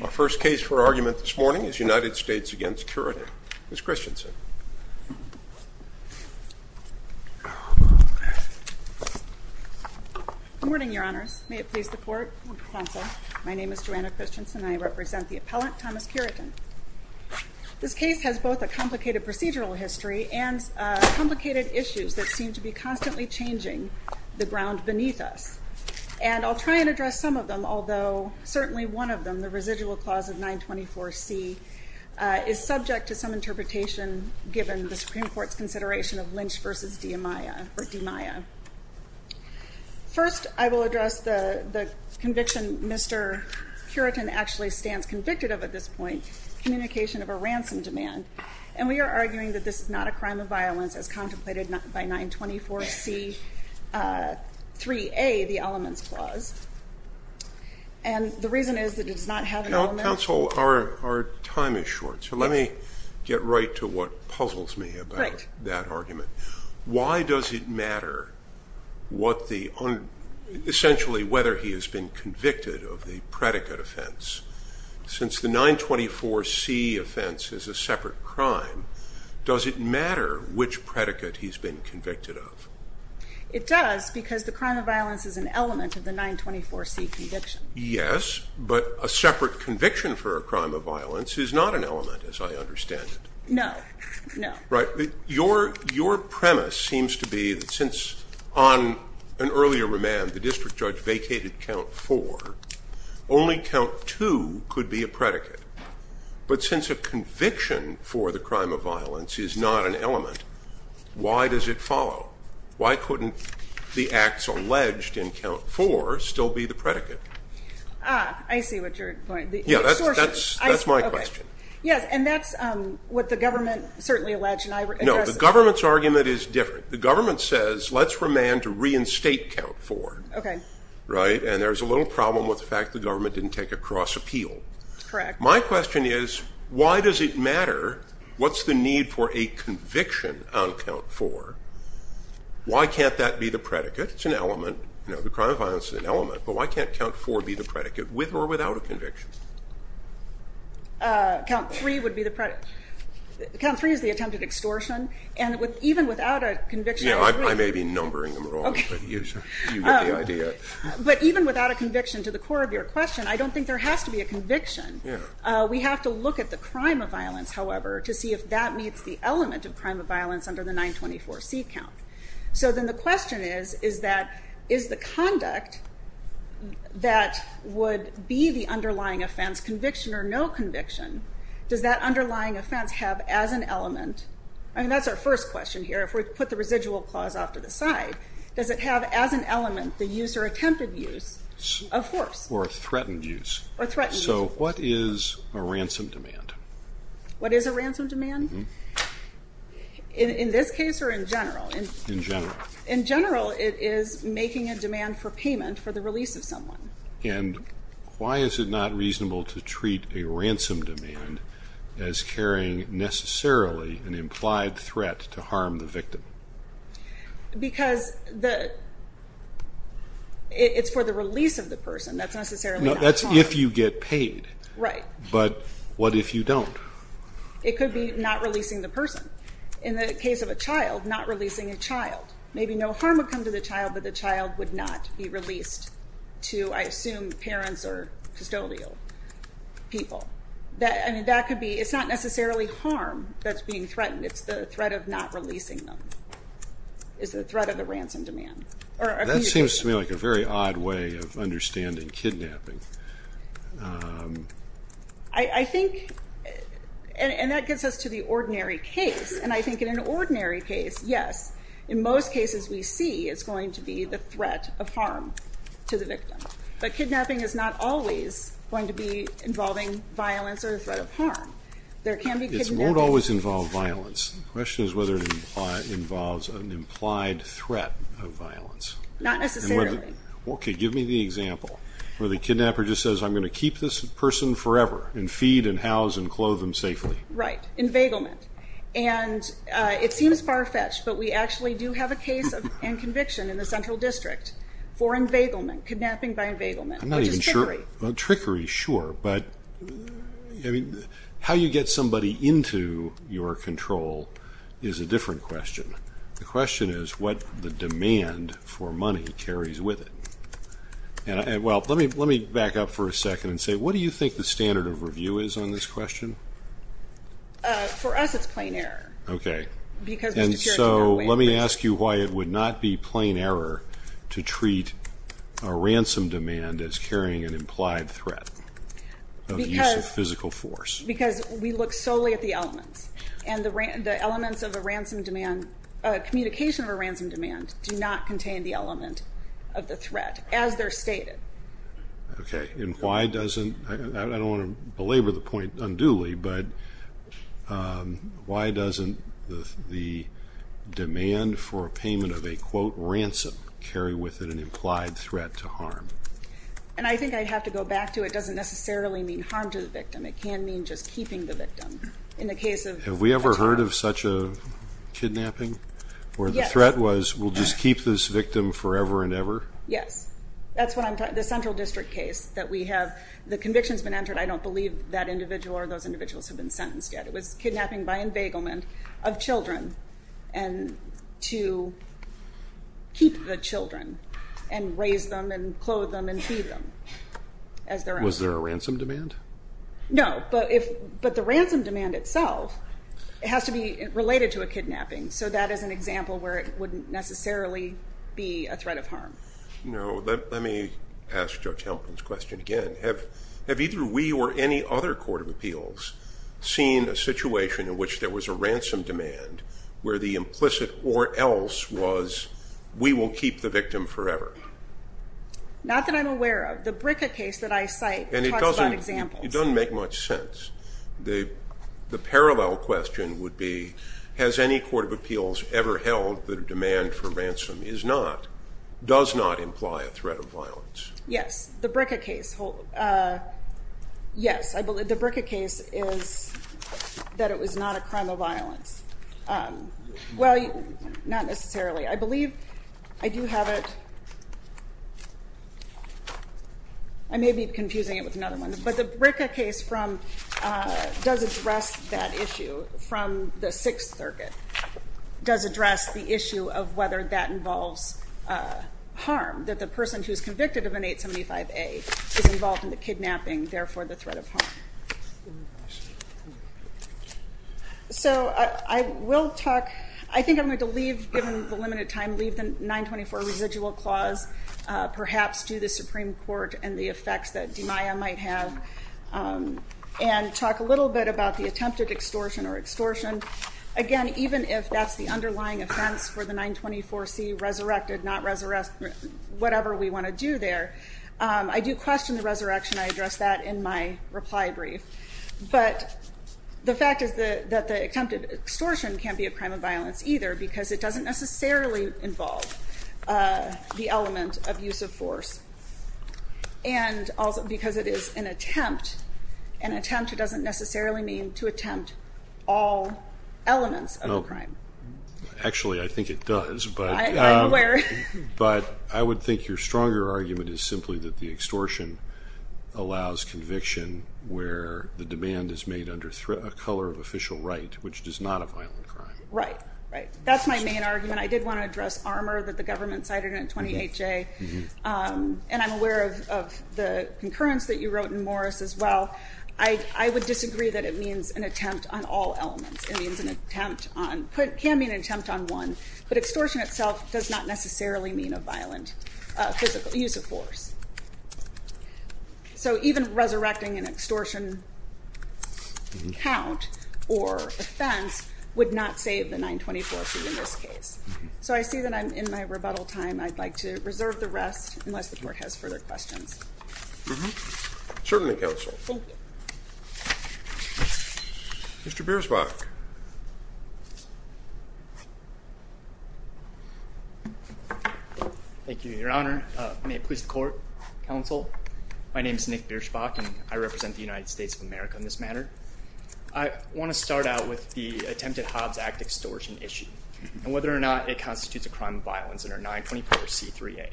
Our first case for argument this morning is United States v. Cureton. Ms. Christensen. Good morning, Your Honors. May it please the Court and Counsel. My name is Joanna Christensen and I represent the appellant, Thomas Cureton. This case has both a complicated procedural history and complicated issues that seem to be constantly changing the ground beneath us. And I'll try and address some of them, although certainly one of them, the residual clause of 924C, is subject to some interpretation given the Supreme Court's consideration of Lynch v. DiMaia. First, I will address the conviction Mr. Cureton actually stands convicted of at this point, communication of a ransom demand. And we are arguing that this is not a crime of violence as contemplated by 924C3A, the elements clause. And the reason is that it does not have an element. Counsel, our time is short, so let me get right to what puzzles me about that argument. Why does it matter what the, essentially whether he has been convicted of the predicate offense? Since the 924C offense is a separate crime, does it matter which predicate he's been convicted of? It does, because the crime of violence is an element of the 924C conviction. Yes, but a separate conviction for a crime of violence is not an element, as I understand it. No, no. Right, your premise seems to be that since on an earlier remand the district judge vacated count four, only count two could be a predicate. But since a conviction for the crime of violence is not an element, why does it follow? Why couldn't the acts alleged in count four still be the predicate? Ah, I see what you're pointing. Yeah, that's my question. Yes, and that's what the government certainly alleged. No, the government's argument is different. The government says let's remand to reinstate count four. Okay. Right, and there's a little problem with the fact the government didn't take a cross appeal. Correct. My question is why does it matter what's the need for a conviction on count four? Why can't that be the predicate? It's an element. You know, the crime of violence is an element, but why can't count four be the predicate with or without a conviction? Count three would be the predicate. Count three is the attempted extortion, and even without a conviction on three. Yeah, I may be numbering them wrong, but you get the idea. But even without a conviction to the core of your question, I don't think there has to be a conviction. We have to look at the crime of violence, however, to see if that meets the element of crime of violence under the 924C count. So then the question is that is the conduct that would be the underlying offense, conviction or no conviction, does that underlying offense have as an element? I mean, that's our first question here. If we put the residual clause off to the side, does it have as an element the use or attempted use of force? Or threatened use. Or threatened use. So what is a ransom demand? What is a ransom demand? In this case or in general? In general. In general, it is making a demand for payment for the release of someone. And why is it not reasonable to treat a ransom demand as carrying necessarily an implied threat to harm the victim? Because it's for the release of the person. That's necessarily not harm. That's if you get paid. Right. But what if you don't? It could be not releasing the person. In the case of a child, not releasing a child. Maybe no harm would come to the child, but the child would not be released to, I assume, parents or custodial people. I mean, that could be, it's not necessarily harm that's being threatened. It's the threat of not releasing them. It's the threat of the ransom demand. That seems to me like a very odd way of understanding kidnapping. I think, and that gets us to the ordinary case. And I think in an ordinary case, yes, in most cases we see it's going to be the threat of harm to the victim. But kidnapping is not always going to be involving violence or the threat of harm. There can be kidnappings. It won't always involve violence. The question is whether it involves an implied threat of violence. Not necessarily. Okay, give me the example where the kidnapper just says, I'm going to keep this person forever and feed and house and clothe them safely. Right. Invaglement. And it seems far-fetched, but we actually do have a case and conviction in the Central District for invaglement, kidnapping by invaglement, which is trickery. Trickery, sure. But how you get somebody into your control is a different question. The question is what the demand for money carries with it. And, well, let me back up for a second and say, what do you think the standard of review is on this question? For us it's plain error. Okay. And so let me ask you why it would not be plain error to treat a ransom demand as carrying an implied threat of use of physical force. Because we look solely at the elements. And the elements of a ransom demand, communication of a ransom demand, do not contain the element of the threat as they're stated. Okay. And why doesn't, I don't want to belabor the point unduly, but why doesn't the demand for payment of a, quote, ransom, carry with it an implied threat to harm? And I think I'd have to go back to it doesn't necessarily mean harm to the victim. It can mean just keeping the victim. In the case of a child. Have we ever heard of such a kidnapping? Yes. Where the threat was, we'll just keep this victim forever and ever? Yes. That's what I'm talking, the Central District case that we have, the conviction's been entered. I don't believe that individual or those individuals have been sentenced yet. It was kidnapping by embegglement of children and to keep the children and raise them and clothe them and feed them as their own. Was there a ransom demand? No. But if, but the ransom demand itself, it has to be related to a kidnapping. So that is an example where it wouldn't necessarily be a threat of harm. No. Let me ask Judge Helman's question again. Have either we or any other court of appeals seen a situation in which there was a ransom demand where the implicit or else was we will keep the victim forever? Not that I'm aware of. The BRCA case that I cite talks about examples. It doesn't make much sense. The parallel question would be has any court of appeals ever held that a demand for ransom is not, does not imply a threat of violence? Yes. The BRCA case, yes. The BRCA case is that it was not a crime of violence. Well, not necessarily. I believe I do have it. I may be confusing it with another one, but the BRCA case from, does address that issue from the Sixth Circuit. Does address the issue of whether that involves harm, that the person who's convicted of an 875A is involved in the kidnapping, therefore the threat of harm. So I will talk, I think I'm going to leave, given the limited time, leave the 924 residual clause, perhaps to the Supreme Court and the effects that DMIA might have, and talk a little bit about the attempted extortion or extortion. Again, even if that's the underlying offense for the 924C, resurrected, not resurrected, whatever we want to do there. I do question the resurrection. I address that in my reply brief. But the fact is that the attempted extortion can't be a crime of violence either, because it doesn't necessarily involve the element of use of force. And because it is an attempt, an attempt doesn't necessarily mean to attempt all elements of the crime. Actually, I think it does. I'm aware. But I would think your stronger argument is simply that the extortion allows conviction where the demand is made under a color of official right, which is not a violent crime. Right, right. That's my main argument. I did want to address armor that the government cited in 28J. And I'm aware of the concurrence that you wrote in Morris as well. I would disagree that it means an attempt on all elements. It can be an attempt on one, but extortion itself does not necessarily mean a violent physical use of force. So even resurrecting an extortion count or offense would not save the 924C in this case. So I see that I'm in my rebuttal time. I'd like to reserve the rest unless the Court has further questions. Certainly, Counsel. Thank you. Mr. Bierschbach. Thank you, Your Honor. May it please the Court, Counsel. My name is Nick Bierschbach, and I represent the United States of America in this matter. I want to start out with the attempted Hobbs Act extortion issue and whether or not it constitutes a crime of violence under 924C3A.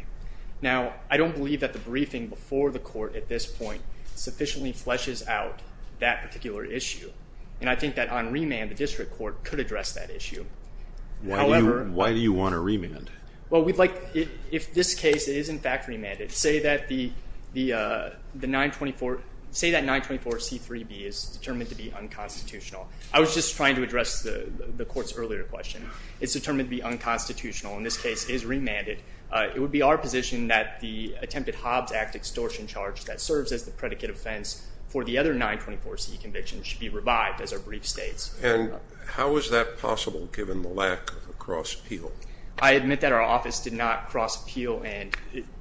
Now, I don't believe that the briefing before the Court at this point sufficiently fleshes out that particular issue. And I think that on remand, the District Court could address that issue. Why do you want to remand? Well, we'd like, if this case is in fact remanded, say that the 924C3B is determined to be unconstitutional. I was just trying to address the Court's earlier question. It's determined to be unconstitutional. In this case, it is remanded. It would be our position that the attempted Hobbs Act extortion charge that serves as the predicate offense for the other 924C convictions should be revived, as our brief states. And how is that possible, given the lack of a cross appeal? I admit that our office did not cross appeal.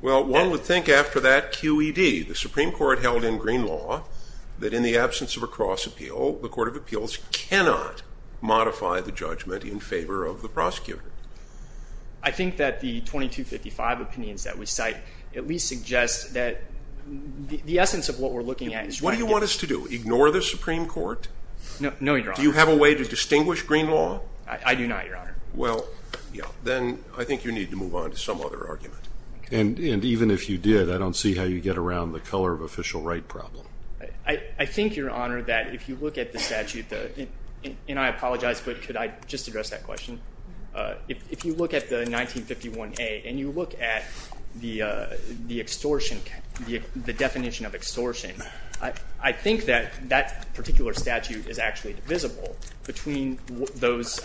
Well, one would think after that QED, the Supreme Court held in green law that in the absence of a cross appeal, the Court of Appeals cannot modify the judgment in favor of the prosecutor. I think that the 2255 opinions that we cite at least suggest that the essence of what we're looking at is right. What do you want us to do, ignore the Supreme Court? No, Your Honor. Do you have a way to distinguish green law? I do not, Your Honor. Well, then I think you need to move on to some other argument. And even if you did, I don't see how you get around the color of official right problem. I think, Your Honor, that if you look at the statute, and I apologize, but could I just address that question? If you look at the 1951A and you look at the extortion, the definition of extortion, I think that that particular statute is actually divisible between those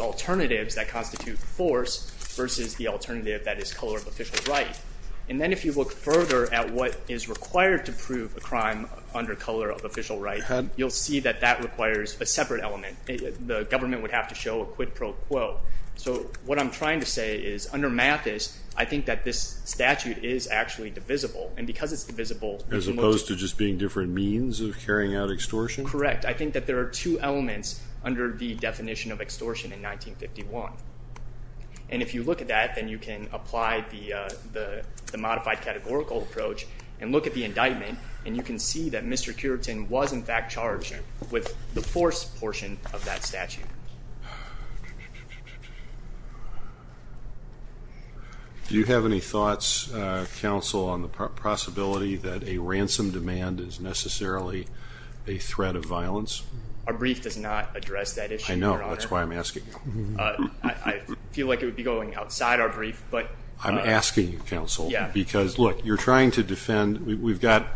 alternatives that constitute force versus the alternative that is color of official right. And then if you look further at what is required to prove a crime under color of official right, you'll see that that requires a separate element. The government would have to show a quid pro quo. So what I'm trying to say is under Mathis, I think that this statute is actually divisible. And because it's divisible— As opposed to just being different means of carrying out extortion? Correct. I think that there are two elements under the definition of extortion in 1951. And if you look at that, then you can apply the modified categorical approach and look at the indictment, and you can see that Mr. Cureton was, in fact, charged with the force portion of that statute. Do you have any thoughts, Counsel, on the possibility that a ransom demand is necessarily a threat of violence? Our brief does not address that issue, Your Honor. I know. That's why I'm asking. I feel like it would be going outside our brief, but— I'm asking, Counsel, because, look, you're trying to defend—we've got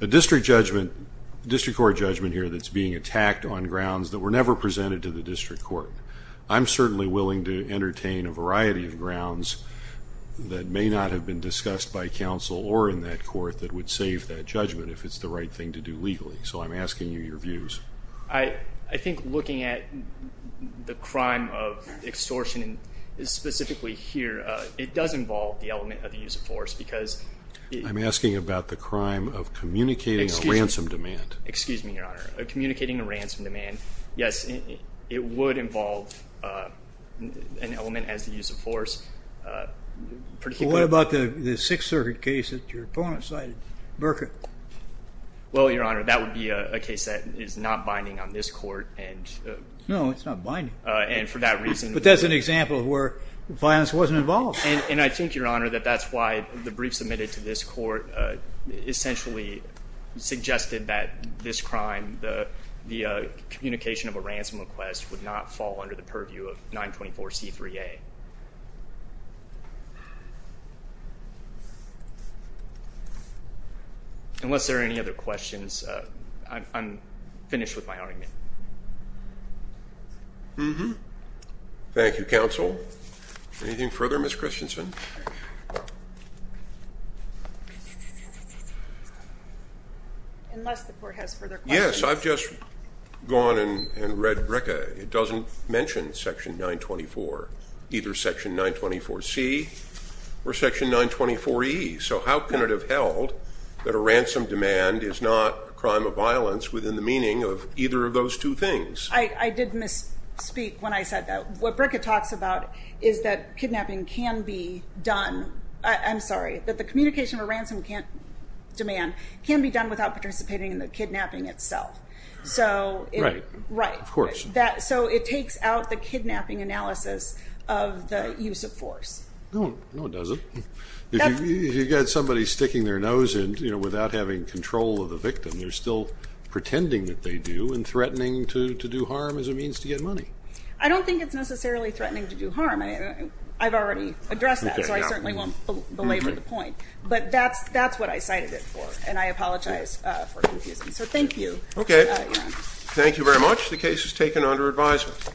a district court judgment here that's being attacked on grounds that were never presented to the district court. I'm certainly willing to entertain a variety of grounds that may not have been discussed by counsel or in that court that would save that judgment if it's the right thing to do legally. So I'm asking you your views. I think looking at the crime of extortion specifically here, it does involve the element of the use of force because— I'm asking about the crime of communicating a ransom demand. Excuse me, Your Honor. Communicating a ransom demand, yes, it would involve an element as the use of force. What about the Sixth Circuit case that your opponent cited, Burkitt? Well, Your Honor, that would be a case that is not binding on this court. No, it's not binding. And for that reason— But that's an example of where violence wasn't involved. And I think, Your Honor, that that's why the brief submitted to this court essentially suggested that this crime, the communication of a ransom request, would not fall under the purview of 924C3A. Unless there are any other questions, I'm finished with my argument. Mm-hmm. Thank you, counsel. Anything further, Ms. Christensen? Unless the court has further questions. Yes, I've just gone and read BRCA. It doesn't mention Section 924, either Section 924C or Section 924E. So how can it have held that a ransom demand is not a crime of violence within the meaning of either of those two things? I did misspeak when I said that. What BRCA talks about is that kidnapping can be done—I'm sorry, that the communication of a ransom demand can be done without participating in the kidnapping itself. Right. Right. Of course. So it takes out the kidnapping analysis of the use of force. No, it doesn't. If you've got somebody sticking their nose in without having control of the victim, they're still pretending that they do and threatening to do harm as a means to get money. I don't think it's necessarily threatening to do harm. I've already addressed that, so I certainly won't belabor the point. But that's what I cited it for, and I apologize for confusing. So thank you. Okay. Thank you very much. The case is taken under advisement.